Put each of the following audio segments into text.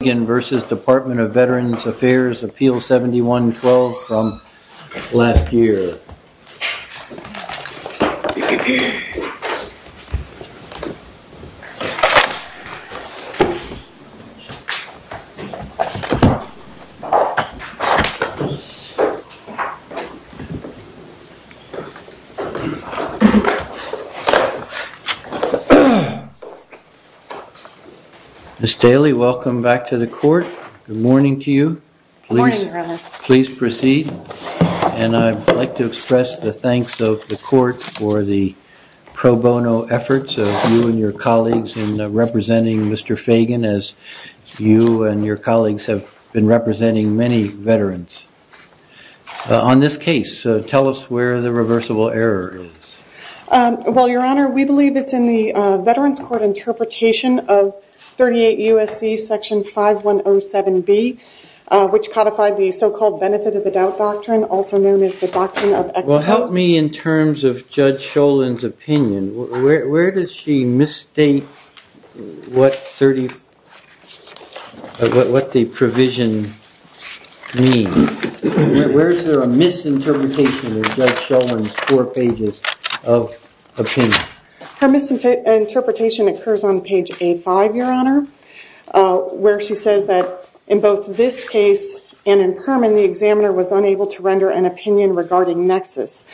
Fagan v. Department of Veterans Affairs, Appeal 7112 from last year. Ms. Daley, welcome back to the court. Good morning to you. Please proceed. And I'd like to express the thanks of the court for the pro bono efforts of you and your colleagues in representing Mr. Fagan, as you and your colleagues have been representing many veterans. On this case, tell us where the reversible error is. Well, Your Honor, we believe it's in the Veterans Court interpretation of 38 U.S.C. Section 5107B, which codified the so-called Benefit of the Doubt Doctrine, also known as the Doctrine of Equity. Well, help me in terms of Judge Schoellin's opinion. Where does she misstate what the provision means? Where is there a misinterpretation of Judge Schoellin's four pages of opinion? Her misinterpretation occurs on page A5, Your Honor, where she says that, in both this case and in Perman, the examiner was unable to render an opinion regarding nexus.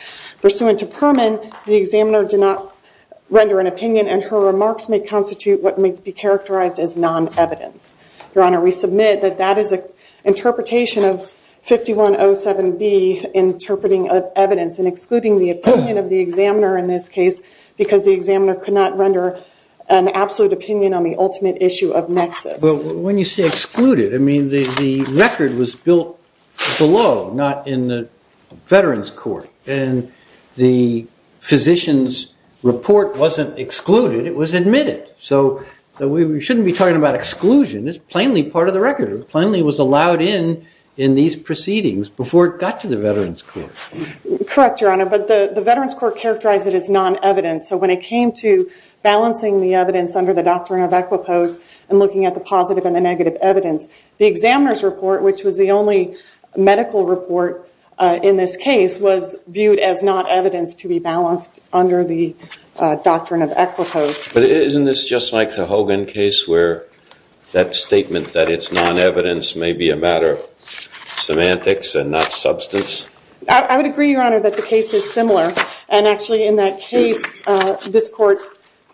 Pursuant to Perman, the examiner did not render an opinion, and her remarks may constitute what may be characterized as non-evident. Your Honor, we submit that that is an interpretation of 5107B, interpreting evidence and excluding the opinion of the examiner in this case, because the examiner could not render an absolute opinion on the ultimate issue of nexus. But when you say excluded, I mean, the record was built below, not in the Veterans Court. And the physician's report wasn't excluded. It was admitted. So we shouldn't be talking about exclusion. It's plainly part of the record. It plainly was allowed in in these proceedings before it got to the Veterans Court. Correct, Your Honor. But the Veterans Court characterized it as non-evident. So when it came to balancing the evidence under the doctrine of equipose and looking at the positive and the negative evidence, the examiner's report, which was the only medical report in this case, was viewed as not evidence to be balanced under the doctrine of equipose. But isn't this just like the Hogan case, where that statement that it's non-evidence may be a matter of semantics and not substance? I would agree, Your Honor, that the case is similar. And actually, in that case, this court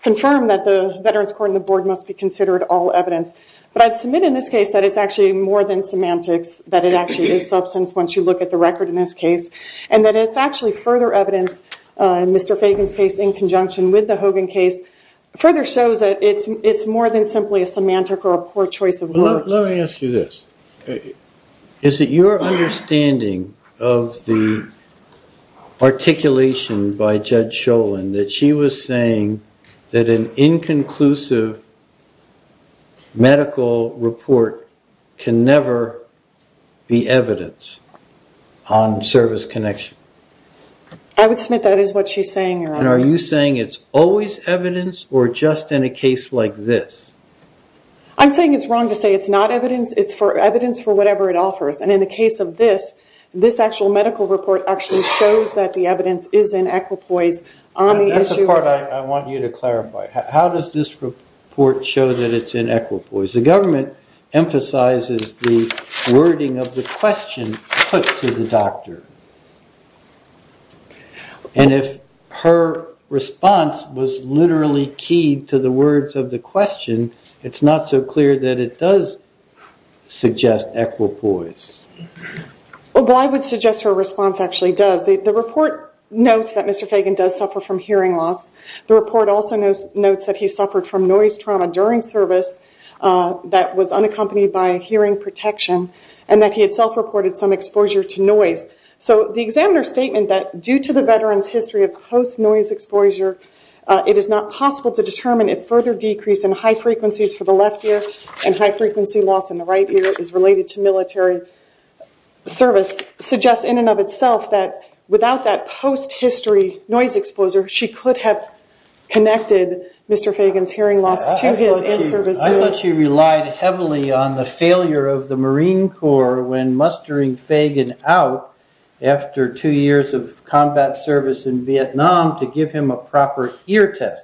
confirmed that the Veterans Court and the board must be considered all evidence. But I'd submit in this case that it's actually more than semantics, that it actually is substance once you look at the record in this case. And that it's actually further evidence, in Mr. Fagan's case in conjunction with the Hogan case, further shows that it's more than simply a semantic or a poor choice of words. Let me ask you this. Is it your understanding of the articulation by Judge Sholin that she was saying that an inconclusive medical report can never be evidence on service connection? I would submit that is what she's saying, Your Honor. And are you saying it's always evidence, or just in a case like this? I'm saying it's wrong to say it's not evidence. It's evidence for whatever it offers. And in the case of this, this actual medical report actually shows that the evidence is in equipoise on the issue of- That's the part I want you to clarify. How does this report show that it's in equipoise? The government emphasizes the wording of the question put to the doctor. And if her response was literally keyed to the words of the question, it's not so clear that it does suggest equipoise. Well, I would suggest her response actually does. The report notes that Mr. Fagan does suffer from hearing loss. The report also notes that he suffered from noise trauma during service that was unaccompanied by hearing protection, and that he had self-reported some exposure to noise. So the examiner's statement that due to the veteran's history of post-noise exposure, it is not possible to determine if further decrease in high frequencies for the left ear and high frequency loss in the right ear is related to military service suggests in and of itself that without that post-history noise exposure, she could have connected Mr. Fagan's hearing loss to his in-service ear. I thought she relied heavily on the failure of the Marine Corps when mustering Fagan out after two years of combat service in Vietnam to give him a proper ear test.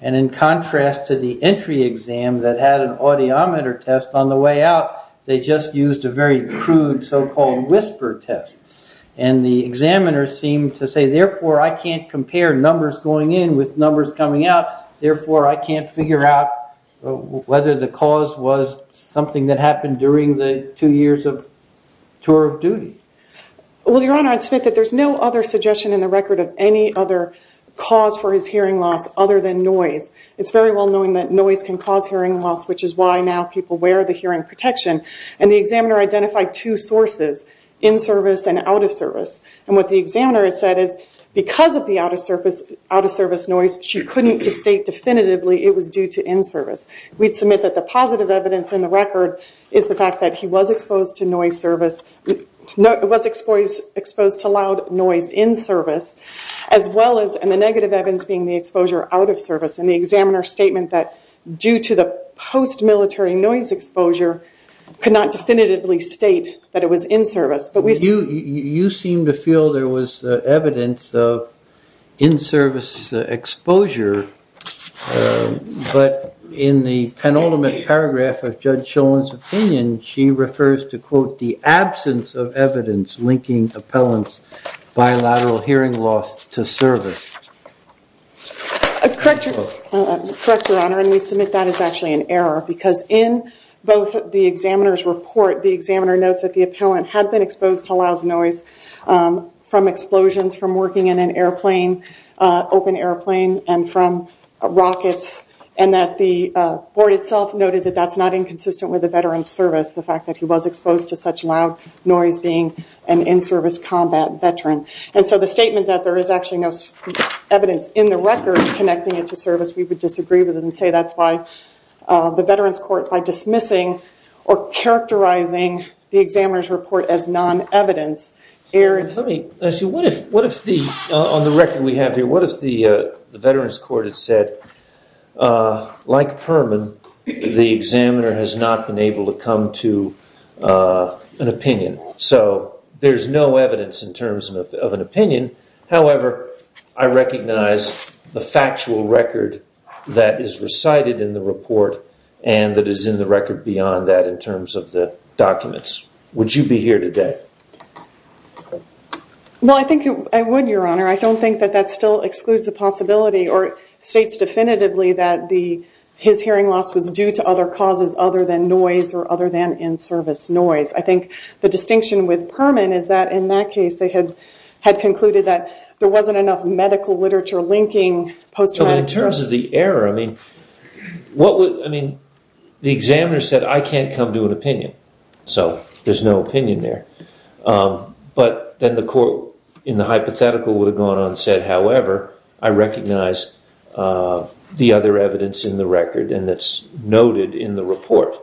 And in contrast to the entry exam that had an audiometer test on the way out, they just used a very crude so-called whisper test. And the examiner seemed to say, therefore, I can't compare numbers going in with numbers coming out. Therefore, I can't figure out whether the cause was something that happened during the two years of tour of duty. Well, Your Honor, I'd submit that there's no other suggestion in the record of any other cause for his hearing loss other than noise. It's very well known that noise can cause hearing loss, which is why now people wear the hearing protection. And the examiner identified two sources, in-service and out-of-service. And what the examiner has said is, because of the out-of-service noise, she couldn't state definitively it was due to in-service. We'd submit that the positive evidence in the record is the fact that he was exposed to loud noise in-service, as well as the negative evidence being the exposure out of service. And the examiner's statement that, due to the post-military noise exposure, could not definitively state that it was in-service. But we see. You seem to feel there was evidence of in-service exposure. But in the penultimate paragraph of Judge Shulman's opinion, she refers to, quote, the absence of evidence linking appellant's bilateral hearing loss to service. Correct your honor, and we submit that as actually an error. Because in both the examiner's report, the examiner notes that the appellant had been exposed to loud noise from explosions, from working in an airplane, open airplane, and from rockets. And that the board itself noted that that's not inconsistent with the veteran's service. The fact that he was exposed to such loud noise being an in-service combat veteran. And so the statement that there is actually no evidence in the record connecting it to service, we would disagree with it and say that's why the Veterans Court, by dismissing or characterizing the examiner's report as non-evidence, erred. Let me ask you, on the record we have here, what if the Veterans Court had said, like Perman, the examiner has not been able to come to an opinion? So there's no evidence in terms of an opinion. However, I recognize the factual record that is recited in the report and that is in the record beyond that in terms of the documents. Would you be here today? Well, I think I would, your honor. I don't think that that still excludes the possibility or states definitively that his hearing loss was due to other causes other than noise or other than in-service noise. I think the distinction with Perman is that in that case they had concluded that there wasn't enough medical literature linking post-traumatic stress. So in terms of the error, I mean, the examiner said I can't come to an opinion. So there's no opinion there. But then the court in the hypothetical would have gone on and said, however, I recognize the other evidence in the record and that's noted in the report.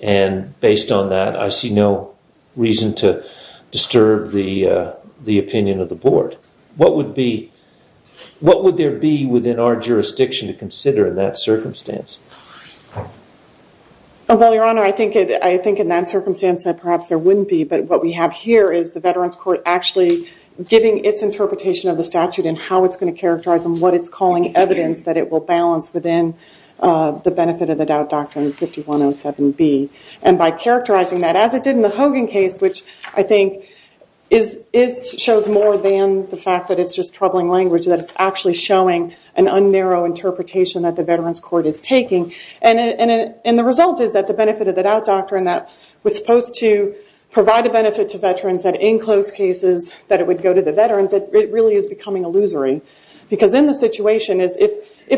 And based on that, I see no reason to disturb the opinion of the board. What would there be within our jurisdiction to consider in that circumstance? Well, your honor, I think in that circumstance that perhaps there wouldn't be. But what we have here is the Veterans Court actually giving its interpretation of the statute and how it's going to characterize and what it's calling evidence that it will balance within the benefit of the doubt doctrine 5107B. And by characterizing that as it did in the Hogan case, which I think shows more than the fact that it's just troubling language, that it's actually showing an un-narrow interpretation that the Veterans Court is taking. And the result is that the benefit of the doubt doctrine that was supposed to provide a benefit to veterans that in close cases that it would go to the veterans, it really is becoming illusory. Because in the situation, if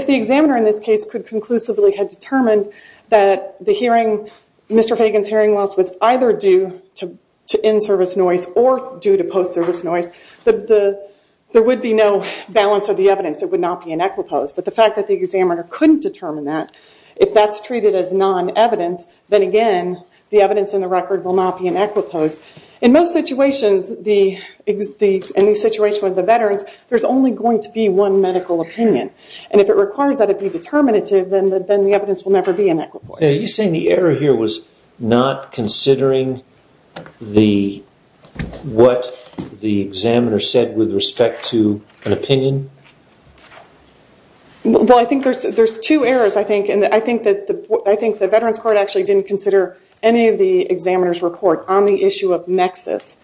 the examiner in this case could conclusively have determined that Mr. Fagan's hearing loss was either due to in-service noise or due to post-service noise, there would be no balance of the evidence. It would not be an equipose. But the fact that the examiner couldn't determine that, if that's treated as non-evidence, then again, the evidence in the record will not be an equipose. In most situations, in the situation with the veterans, there's only going to be one medical opinion. And if it requires that it be determinative, then the evidence will never be an equipose. You're saying the error here was not considering what the examiner said with respect to an opinion? Well, I think there's two errors. I think the Veterans Court actually didn't consider any of the examiner's report on the issue of nexus.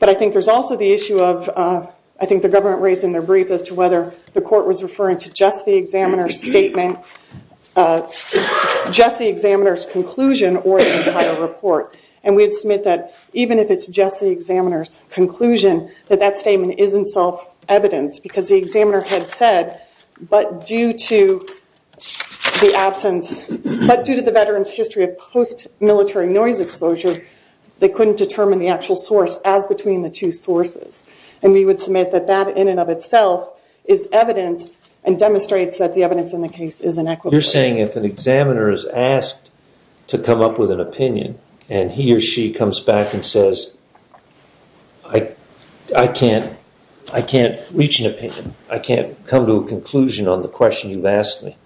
But I think there's also the issue of, I think the government raised in their brief, as to whether the court was referring to just the examiner's statement, just the examiner's conclusion, or the entire report. And we'd submit that even if it's just the examiner's conclusion, that that statement isn't self-evidence. Because the examiner had said, but due to the absence, but due to the veterans' history of post-military noise exposure, they couldn't determine the actual source as between the two sources. And we would submit that that, in and of itself, is evidence, and demonstrates that the evidence in the case is an equipose. You're saying if an examiner is asked to come up with an opinion, and he or she comes back and says, I can't reach an opinion, I can't come to a conclusion on the question you've asked me,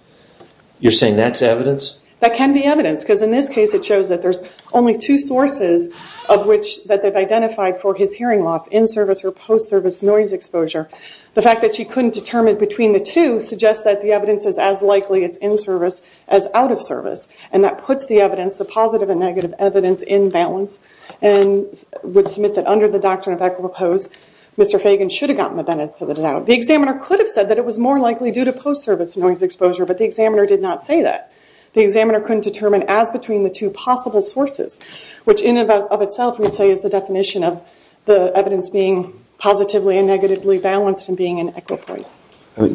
you're saying that's evidence? That can be evidence. Because in this case, it shows that there's only two sources of which that they've identified for his hearing loss in-service or post-service noise exposure. The fact that she couldn't determine between the two suggests that the evidence is as likely it's in-service as out-of-service. And that puts the evidence, the positive and negative evidence, in balance, and would submit that under the doctrine of equipose, Mr. Fagan should have gotten the benefit of the doubt. The examiner could have said that it was more likely due to post-service noise exposure, but the examiner did not say that. The examiner couldn't determine as between the two possible sources, which in and of itself, we would say, is the definition of the evidence being positively and negatively balanced and being in equipose.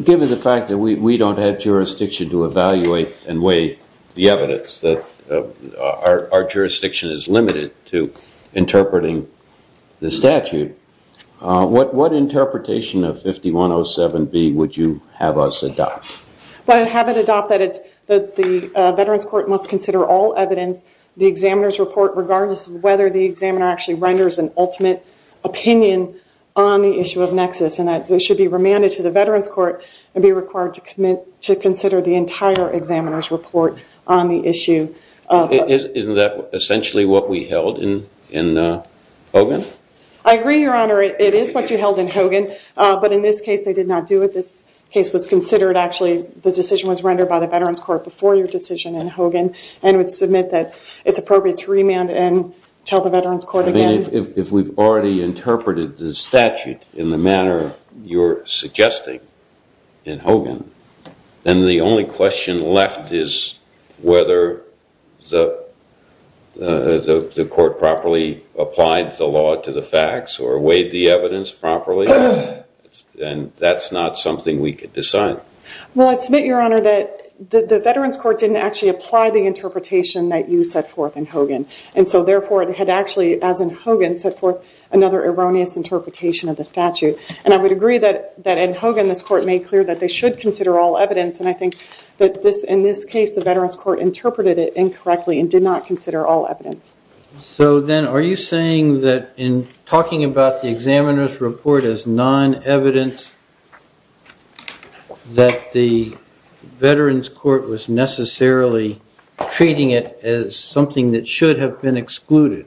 Given the fact that we don't have jurisdiction to evaluate and weigh the evidence, that our jurisdiction is limited to interpreting the statute, what interpretation of 5107B would you have us adopt? Well, I'd have it adopt that the veterans court must consider all evidence, the examiner's report, regardless of whether the examiner actually renders an ultimate opinion on the issue of nexus. And that they should be remanded to the veterans court and be required to consider the entire examiner's report on the issue. Isn't that essentially what we held in Hogan? I agree, Your Honor. It is what you held in Hogan. But in this case, they did not do it. This case was considered, actually, the decision was rendered by the veterans court before your decision in Hogan, and would submit that it's appropriate to remand and tell the veterans court again. If we've already interpreted the statute in the manner you're suggesting in Hogan, then the only question left is whether the court properly applied the law to the facts or weighed the evidence properly. And that's not something we could decide. Well, I'd submit, Your Honor, that the veterans court didn't actually apply the interpretation that you set forth in Hogan. And so therefore, it had actually, as in Hogan, set forth another erroneous interpretation of the statute. And I would agree that in Hogan, this court made clear that they should consider all evidence. And I think that in this case, the veterans court interpreted it incorrectly and did not consider all evidence. So then, are you saying that in talking about the examiner's report as non-evidence, that the veterans court was necessarily treating it as something that should have been excluded?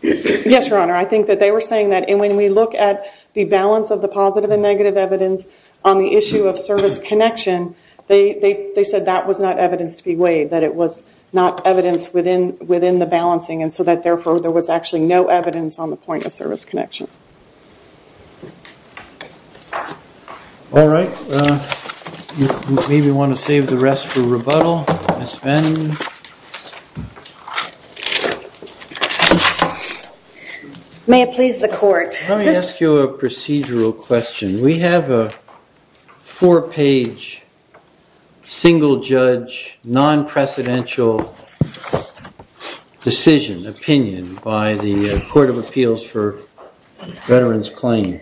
Yes, Your Honor. I think that they were saying that. And when we look at the balance of the positive and negative evidence on the issue of service connection, they said that was not evidence to be weighed, that it was not evidence within the balancing. And so that, therefore, there was actually no evidence on the point of service connection. All right. You maybe want to save the rest for rebuttal, Ms. Venn. May it please the court. Let me ask you a procedural question. We have a four-page, single-judge, non-precedential decision, opinion by the Court of Appeals for Veterans Claim.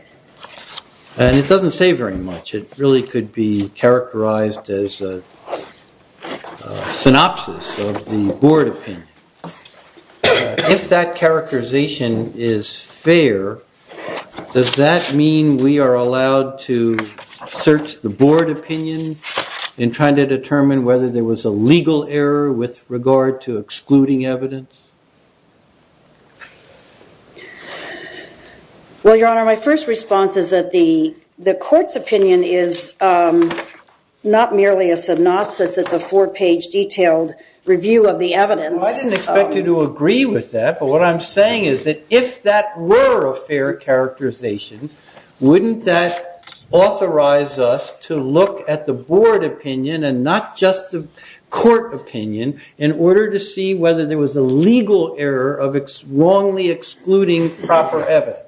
And it doesn't say very much. It really could be characterized as a synopsis of the board opinion. If that characterization is fair, does that mean we are allowed to search the board opinion in trying to determine whether there was a legal error with regard to excluding evidence? Well, Your Honor, my first response is that the court's opinion is not merely a synopsis. It's a four-page, detailed review of the evidence. Well, I didn't expect you to agree with that. But what I'm saying is that if that were a fair characterization, wouldn't that authorize us to look at the board opinion and not just the court opinion in order to see whether there was a legal error of wrongly excluding proper evidence?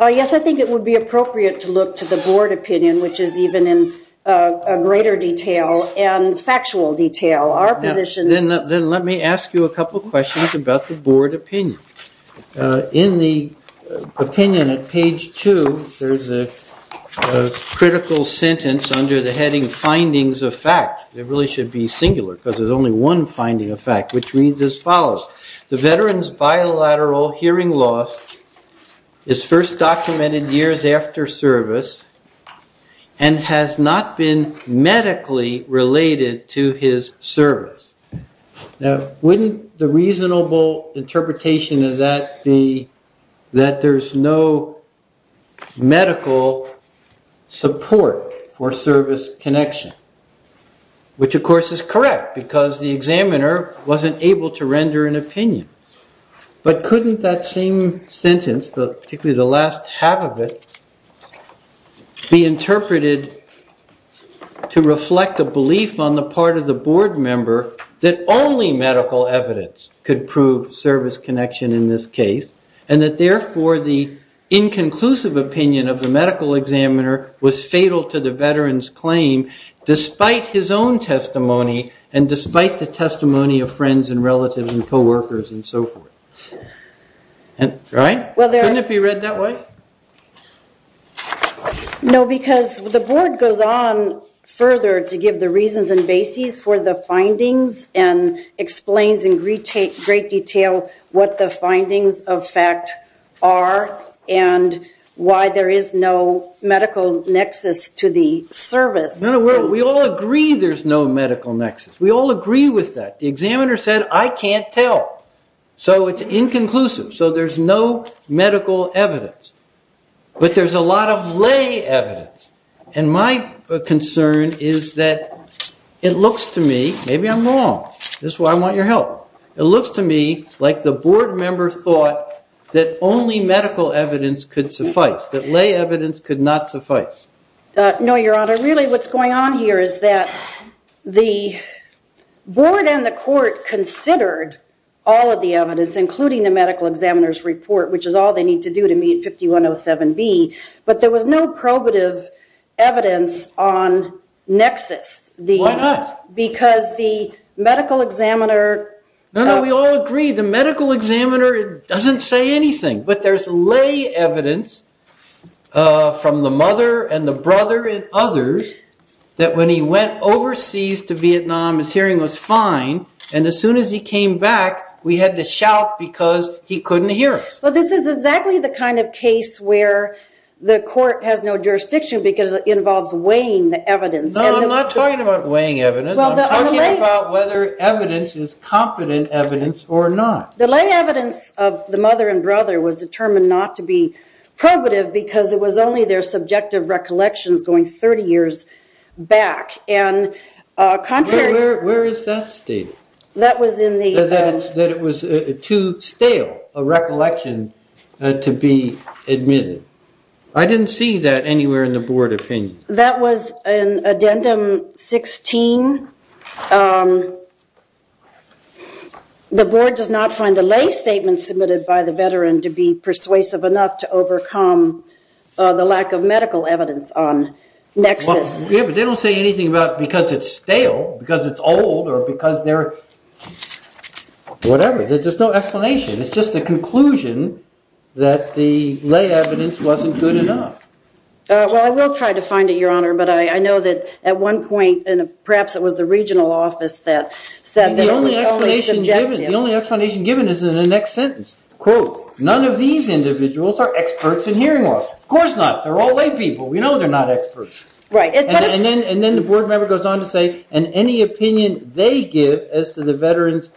Yes, I think it would be appropriate to look to the board opinion, which is even in greater detail and factual detail. Our position is that the board opinion is not merely a synopsis of the board opinion. In the opinion at page two, there's a critical sentence under the heading, findings of fact. It really should be singular, because there's only one finding of fact, which reads as follows. The veteran's bilateral hearing loss is first documented years after service and has not been medically related to his service. Now, wouldn't the reasonable interpretation of that be that there's no medical support for service connection? Which, of course, is correct, because the examiner wasn't able to render an opinion. But couldn't that same sentence, particularly the last half of it, be interpreted to reflect a belief on the part of the board member that only medical evidence could prove service connection in this case and that, therefore, the inconclusive opinion of the medical examiner was fatal to the veteran's claim despite his own testimony and despite the testimony of friends and relatives and co-workers and so forth? Right? Couldn't it be read that way? No, because the board goes on further to give the reasons and basis for the findings and explains in great detail what the findings of fact are and why there is no medical nexus to the service. We all agree there's no medical nexus. We all agree with that. The examiner said, I can't tell. So it's inconclusive. So there's no medical evidence. But there's a lot of lay evidence. And my concern is that it looks to me, maybe I'm wrong. This is why I want your help. It looks to me like the board member thought that only medical evidence could suffice, that lay evidence could not suffice. No, Your Honor, really what's going on here is that the board and the court considered all of the evidence, including the medical examiner's report, which is all they need to do to meet 5107B. But there was no probative evidence on nexus. Why not? Because the medical examiner. No, we all agree the medical examiner doesn't say anything. But there's lay evidence from the mother and the brother and others that when he went overseas to Vietnam, his hearing was fine. And as soon as he came back, we had to shout because he couldn't hear us. Well, this is exactly the kind of case where the court has no jurisdiction because it involves weighing the evidence. No, I'm not talking about weighing evidence. I'm talking about whether evidence is competent evidence or not. The lay evidence of the mother and brother was determined not to be probative because it was only their subjective recollections going 30 years back. And contrary. Where is that stated? That was in the. That it was too stale a recollection to be admitted. I didn't see that anywhere in the board opinion. That was in addendum 16. The board does not find the lay statement submitted by the veteran to be persuasive enough to overcome the lack of medical evidence on nexus. Yeah, but they don't say anything about because it's stale, because it's old, or because they're whatever. There's no explanation. It's just the conclusion that the lay evidence wasn't good enough. Well, I will try to find it, Your Honor. But I know that at one point, and perhaps it was the regional office that said that it was only subjective. The only explanation given is in the next sentence. Quote, none of these individuals are experts in hearing loss. Of course not. They're all lay people. We know they're not experts. Right. And then the board member goes on to say, and any opinion they give as to the veterans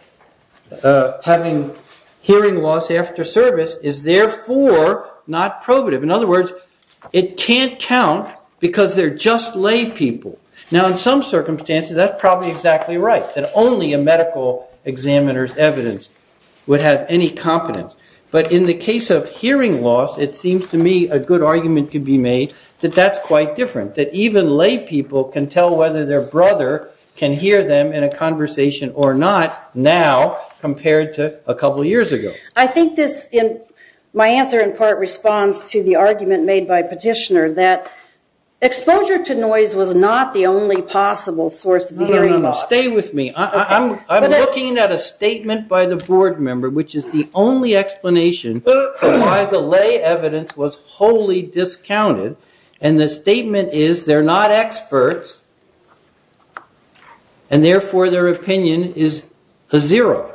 having hearing loss after service is therefore not probative. In other words, it can't count because they're just lay people. Now, in some circumstances, that's probably exactly right, that only a medical examiner's evidence would have any competence. But in the case of hearing loss, it seems to me a good argument could be made that that's quite different, that even lay people can tell whether their brother can hear them in a conversation or not now compared to a couple of years ago. I think this, my answer in part responds to the argument made by Petitioner that exposure to noise was not the only possible source of hearing loss. No, no, no, stay with me. I'm looking at a statement by the board member, which is the only explanation for why the lay evidence was wholly discounted. And the statement is they're not experts, and therefore their opinion is a zero.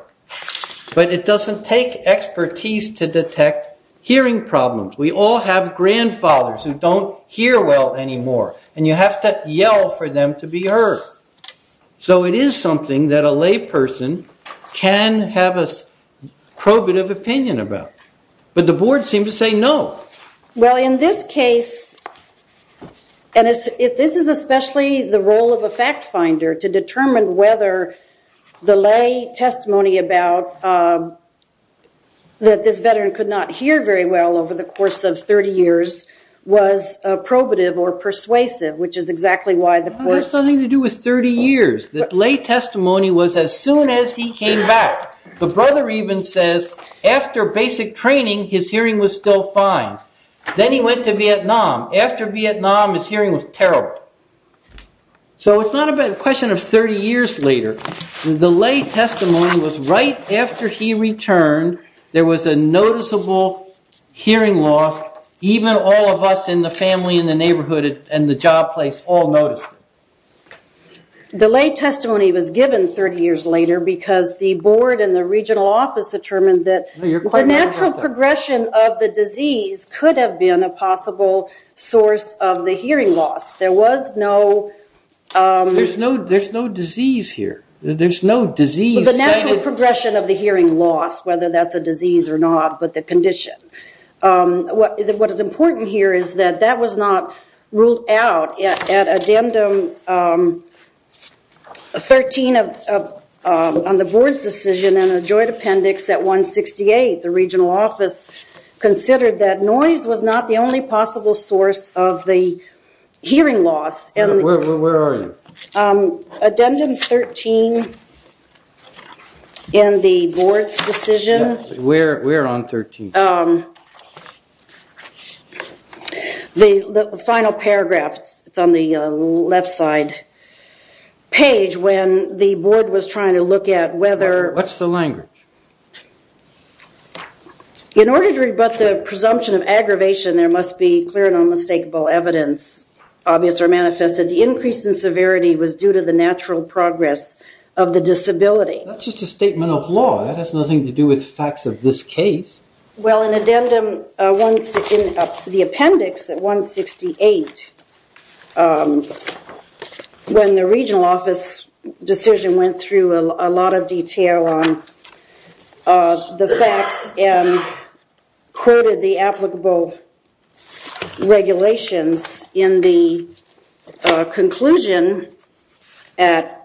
But it doesn't take expertise to detect hearing problems. We all have grandfathers who don't hear well anymore, and you have to yell for them to be heard. So it is something that a lay person can have a probative opinion about. But the board seemed to say no. Well, in this case, and this is especially the role of a fact finder to determine whether the lay testimony about that this veteran could not hear very well over the course of 30 years was probative or persuasive, which is exactly why the board has nothing to do with 30 years. The lay testimony was as soon as he came back. The brother even says after basic training, his hearing was still fine. Then he went to Vietnam. After Vietnam, his hearing was terrible. So it's not a question of 30 years later. The lay testimony was right after he returned, there was a noticeable hearing loss. Even all of us in the family, in the neighborhood, and the job place all noticed it. The lay testimony was given 30 years later because the board and the regional office determined that the natural progression of the disease could have been a possible source of the hearing loss. There was no. There's no disease here. There's no disease. The natural progression of the hearing loss, whether that's a disease or not, but the condition. What is important here is that that was not ruled out. At addendum 13 on the board's decision and a joint appendix at 168, the regional office considered that noise was not the only possible source of the hearing loss. Where are you? Addendum 13 in the board's decision. We're on 13. The final paragraph, it's on the left side page, when the board was trying to look at whether. What's the language? In order to rebut the presumption of aggravation, there must be clear and unmistakable evidence, obvious or manifested. The increase in severity was due to the natural progress of the disability. That's just a statement of law. That has nothing to do with facts of this case. Well, in addendum 16, the appendix at 168, when the regional office decision went through a lot of detail on the facts and quoted the applicable regulations in the conclusion at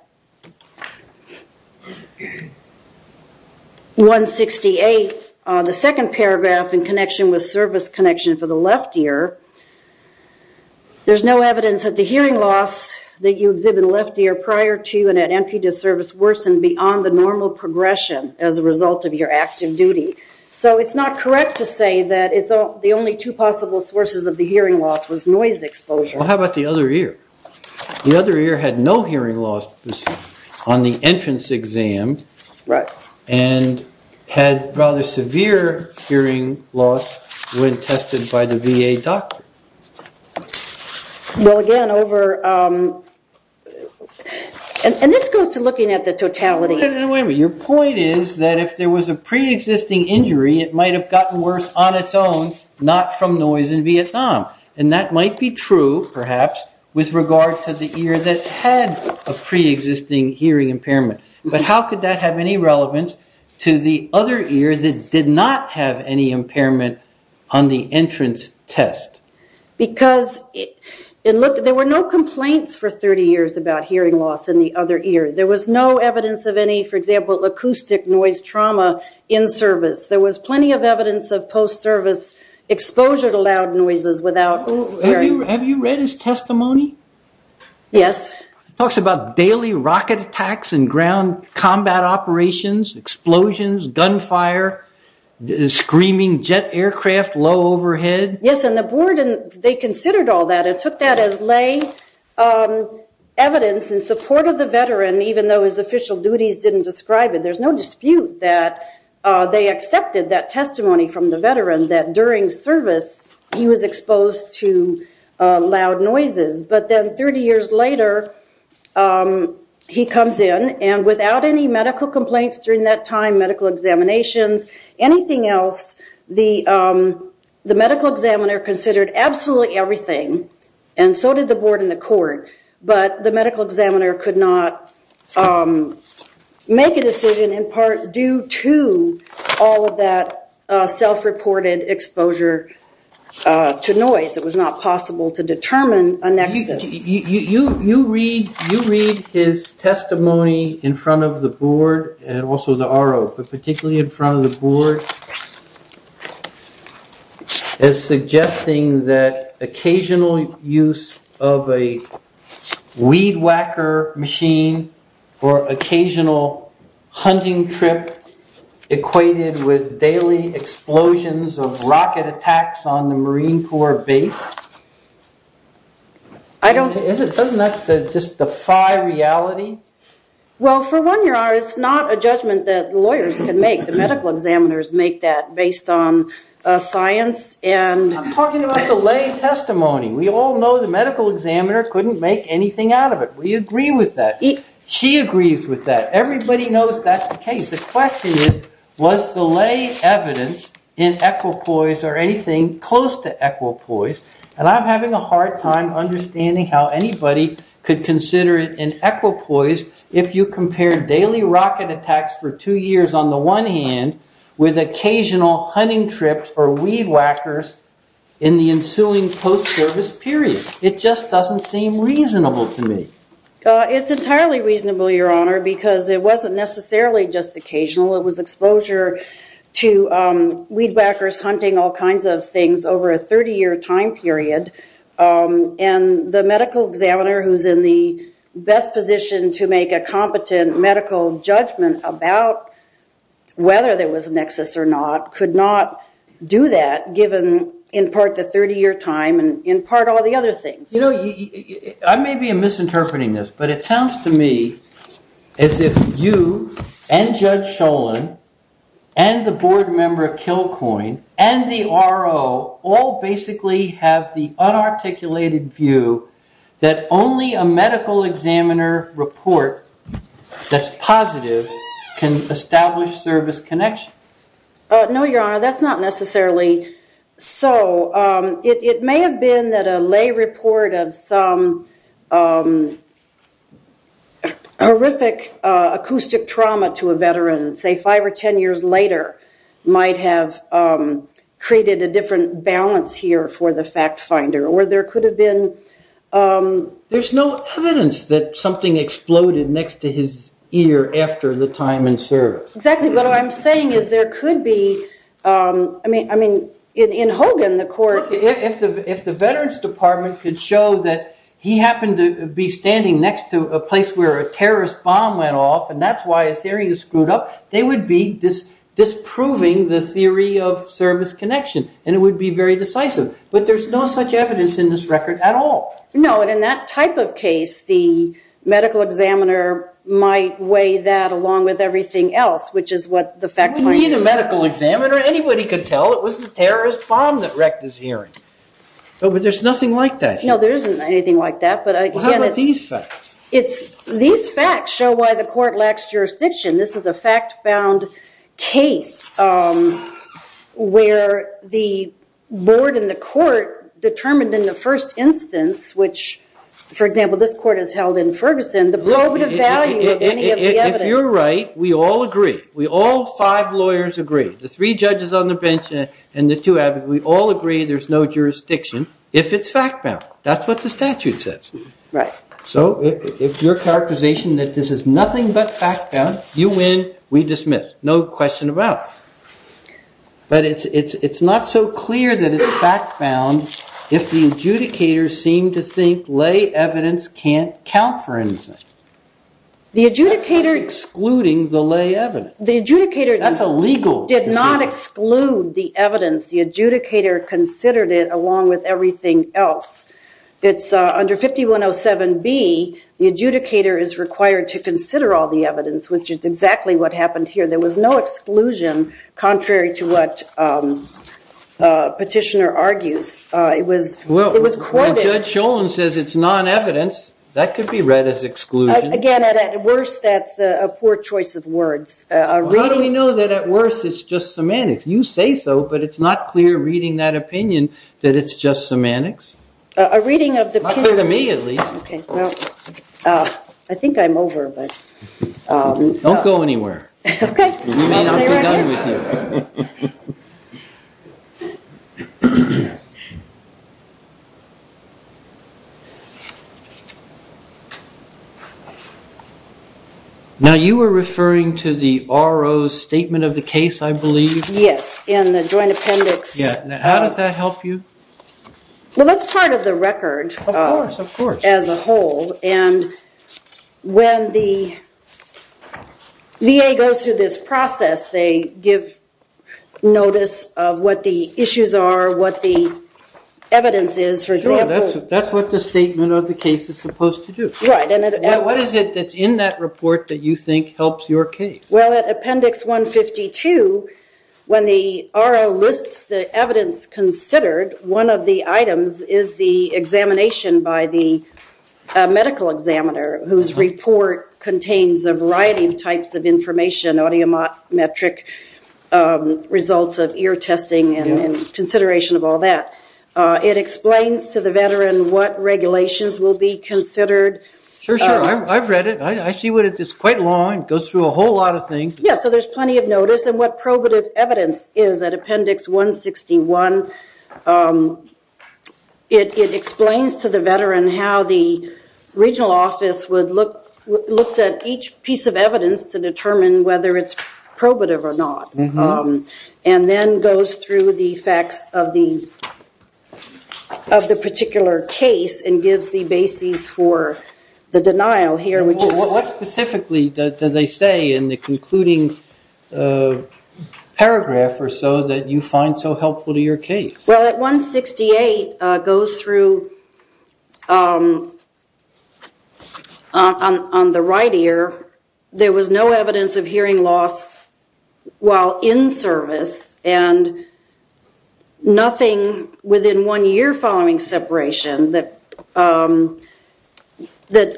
168, the second paragraph in connection with service connection for the left ear, there's no evidence that the hearing loss that you exhibit in the left ear prior to and at entry to service worsened beyond the normal progression as a result of your active duty. So it's not correct to say that the only two possible sources of the hearing loss was noise exposure. Well, how about the other ear? The other ear had no hearing loss on the entrance exam and had rather severe hearing loss when tested by the VA doctor. Well, again, over, and this goes to looking at the totality. Your point is that if there was a pre-existing injury, it might have gotten worse on its own, not from noise in Vietnam. And that might be true, perhaps, with regard to the ear that had a pre-existing hearing impairment. But how could that have any relevance to the other ear that did not have any impairment on the entrance test? Because there were no complaints for 30 years about hearing loss in the other ear. There was no evidence of any, for example, acoustic noise trauma in service. There was plenty of evidence of post-service exposure to loud noises without hearing. Have you read his testimony? Yes. Talks about daily rocket attacks and ground combat operations, explosions, gunfire, screaming jet aircraft, low overhead. Yes, and the board, they considered all that. It took that as lay evidence in support of the veteran, even though his official duties didn't describe it. There's no dispute that they accepted that testimony from the veteran, that during service, he was exposed to loud noises. But then 30 years later, he comes in. And without any medical complaints during that time, medical examinations, anything else, the medical examiner considered absolutely everything. And so did the board and the court. But the medical examiner could not make a decision, in part due to all of that self-reported exposure to noise. It was not possible to determine a nexus. You read his testimony in front of the board and also the RO, but particularly in front of the board, as suggesting that occasional use of a weed whacker machine or occasional hunting trip equated with daily explosions of rocket attacks on the Marine Corps base. Doesn't that just defy reality? Well, for one, your honor, it's not a judgment that lawyers can make. The medical examiners make that based on science and- I'm talking about the lay testimony. We all know the medical examiner couldn't make anything out of it. We agree with that. She agrees with that. Everybody knows that's the case. The question is, was the lay evidence in equipoise or anything close to equipoise? And I'm having a hard time understanding how anybody could consider it in equipoise if you compare daily rocket attacks for two years, on the one hand, with occasional hunting trips or weed whackers in the ensuing post-service period. It just doesn't seem reasonable to me. It's entirely reasonable, your honor, because it wasn't necessarily just occasional. It was exposure to weed whackers hunting all kinds of things over a 30-year time period. And the medical examiner who's in the best position to make a competent medical judgment about whether there was a nexus or not could not do that, given, in part, the 30-year time and, in part, all the other things. I may be misinterpreting this, but it sounds to me as if you and Judge Sholin and the board member Kilcoyne and the RO all basically have the unarticulated view that only a medical examiner report that's positive can establish service connection. No, your honor. That's not necessarily so. It may have been that a lay report of some horrific acoustic trauma to a veteran, say, five or 10 years later, might have created a different balance here for the fact finder. Or there could have been. There's no evidence that something exploded next to his ear after the time in service. Exactly. What I'm saying is there could be. I mean, in Hogan, the court. If the veterans department could show that he happened to be standing next to a place where a terrorist bomb went off, and that's why his hearing is screwed up, they would be disproving the theory of service connection. And it would be very decisive. But there's no such evidence in this record at all. No, and in that type of case, the medical examiner might weigh that along with everything else, which is what the fact finder said. He didn't need a medical examiner. Anybody could tell it was the terrorist bomb that wrecked his hearing. But there's nothing like that. No, there isn't anything like that. But again, it's. How about these facts? These facts show why the court lacks jurisdiction. This is a fact-bound case where the board and the court determined in the first instance, which, for example, this court has held in Ferguson, the blow would have valued any of the evidence. If you're right, we all agree. We all five lawyers agree. The three judges on the bench and the two advocates, we all agree there's no jurisdiction if it's fact-bound. That's what the statute says. So if your characterization that this is nothing but fact-bound, you win, we dismiss. No question about it. But it's not so clear that it's fact-bound if the adjudicator seemed to think lay evidence can't count for anything. The adjudicator. That's excluding the lay evidence. The adjudicator. That's illegal. Did not exclude the evidence. The adjudicator considered it along with everything else. It's under 5107B, the adjudicator is required to consider all the evidence, which is exactly what happened here. There was no exclusion, contrary to what Petitioner argues. It was quoted. When Judge Sholen says it's non-evidence, that could be read as exclusion. Again, at worst, that's a poor choice of words. How do we know that at worst it's just semantics? You say so, but it's not clear reading that opinion that it's just semantics. A reading of the peer review. Not clear to me, at least. I think I'm over, but. Don't go anywhere. OK. I'll stay right here. We may not be done with you. Now, you were referring to the RO's statement of the case, I believe. Yes. In the joint appendix. Yeah. Now, how does that help you? Well, that's part of the record. Of course. Of course. As a whole. And when the VA goes through this process, they give notice of what the issues are, what the evidence is, for example. That's what the statement of the case is about. Right. And what is it that's in that report that you think helps your case? Well, at appendix 152, when the RO lists the evidence considered, one of the items is the examination by the medical examiner, whose report contains a variety of types of information, audiometric results of ear testing and consideration of all that. It explains to the veteran what regulations will be considered. For sure. I've read it. I see what it is. It's quite long. It goes through a whole lot of things. Yeah, so there's plenty of notice. And what probative evidence is at appendix 161, it explains to the veteran how the regional office looks at each piece of evidence to determine whether it's probative or not. And then goes through the facts of the particular case and gives the basis for the denial here, which is. What specifically do they say in the concluding paragraph or so that you find so helpful to your case? Well, at 168, it goes through on the right ear, there was no evidence of hearing loss while in service and nothing within one year following separation that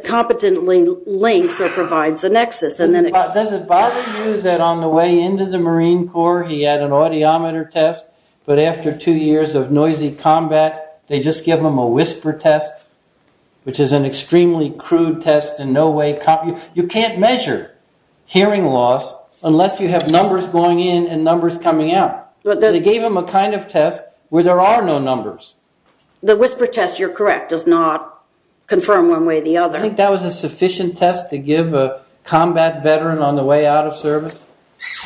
competently links or provides the nexus. Does it bother you that on the way into the Marine Corps, he had an audiometer test, but after two years of noisy combat, they just give him a whisper test, which is an extremely crude test and no way copy. You can't measure hearing loss unless you have numbers going in and numbers coming out. They gave him a kind of test where there are no numbers. The whisper test, you're correct, does not confirm one way or the other. I think that was a sufficient test to give a combat veteran on the way out of service.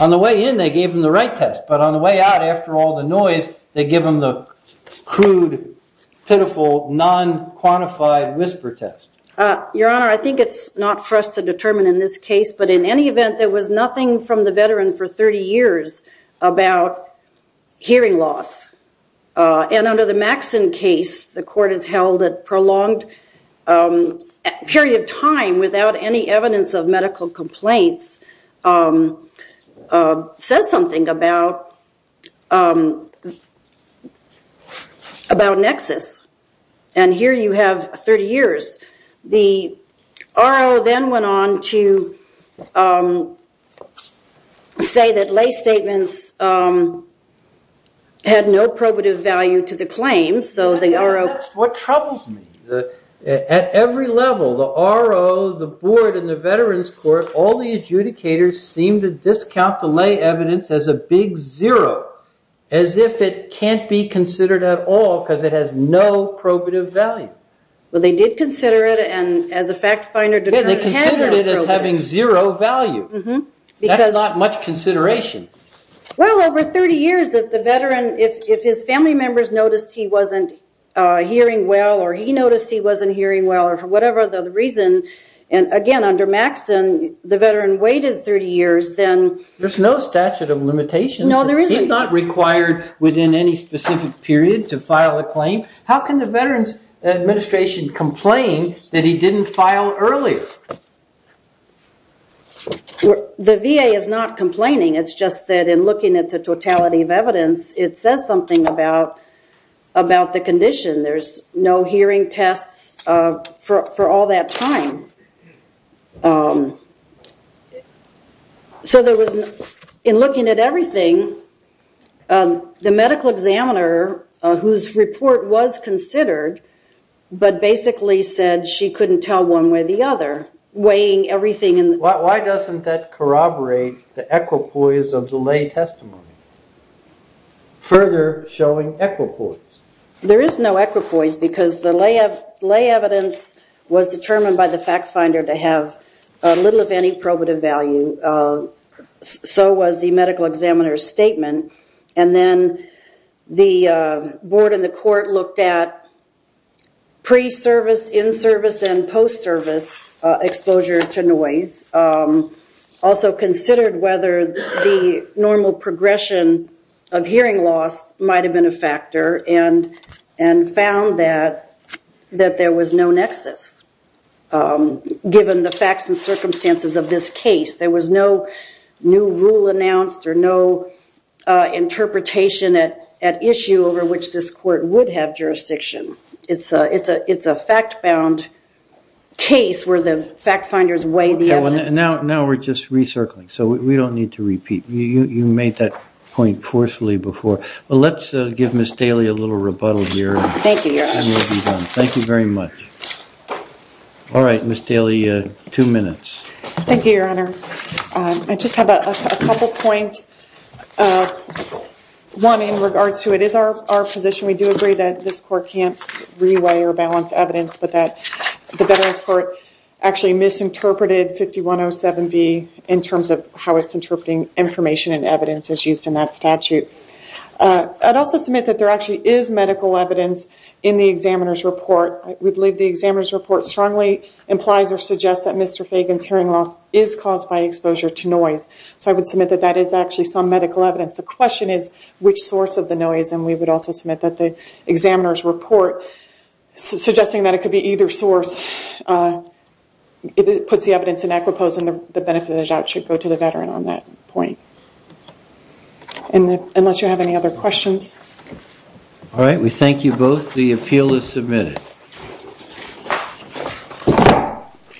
On the way in, they gave him the right test. But on the way out, after all the noise, they give him the crude, pitiful, non-quantified whisper test. Your Honor, I think it's not for us to determine in this case. But in any event, there was nothing from the veteran for 30 years about hearing loss. And under the Maxson case, the court has held a prolonged period of time without any evidence of medical complaints says something about nexus. And here you have 30 years. The RO then went on to say that lay statements had no probative value to the claim. So the RO. What troubles me, at every level, the RO, the board, and the veterans court, all the adjudicators seem to discount the lay evidence as a big zero, as if it can't be considered at all because it has no probative value. Well, they did consider it. And as a fact finder, deterrent can be probative. Yeah, they considered it as having zero value. That's not much consideration. Well, over 30 years, if the veteran, if his family members noticed he wasn't hearing well, or he noticed he wasn't hearing well, or whatever the reason. And again, under Maxson, the veteran waited 30 years, then. There's no statute of limitations. No, there isn't. He's not required within any specific period to file a claim. How can the Veterans Administration complain that he didn't file earlier? The VA is not complaining. It's just that in looking at the totality of evidence, it says something about the condition. There's no hearing tests for all that time. So in looking at everything, the medical examiner, whose report was considered, but basically said she couldn't tell one way or the other, weighing everything. Why doesn't that corroborate the equipoise of the lay testimony, further showing equipoise? There is no equipoise, because the lay evidence was determined by the fact finder to have little, if any, probative value. So was the medical examiner's statement. And then the board and the court looked at pre-service, in-service, and post-service exposure to noise. Also considered whether the normal progression of hearing loss might have been a factor, and found that there was no nexus, given the facts and circumstances of this case. There was no new rule announced or no interpretation at issue over which this court would have jurisdiction. It's a fact-bound case, where the fact finders weigh the evidence. Now we're just recircling. So we don't need to repeat. You made that point forcefully before. Well, let's give Ms. Daly a little rebuttal here. Thank you, Your Honor. Thank you very much. All right, Ms. Daly, two minutes. Thank you, Your Honor. I just have a couple points. One, in regards to it is our position. We do agree that this court can't reweigh or balance evidence, but that the Veterans Court actually misinterpreted 5107B in terms of how it's interpreting information and evidence as used in that statute. I'd also submit that there actually is medical evidence in the examiner's report. We believe the examiner's report strongly implies or suggests that Mr. Fagan's hearing loss is caused by exposure to noise. So I would submit that that is actually some medical evidence. The question is, which source of the noise? And we would also submit that the examiner's report, suggesting that it could be either source, puts the evidence in equipose, and the benefit of the doubt should go to the veteran on that point, unless you have any other questions. All right, we thank you both. The appeal is submitted.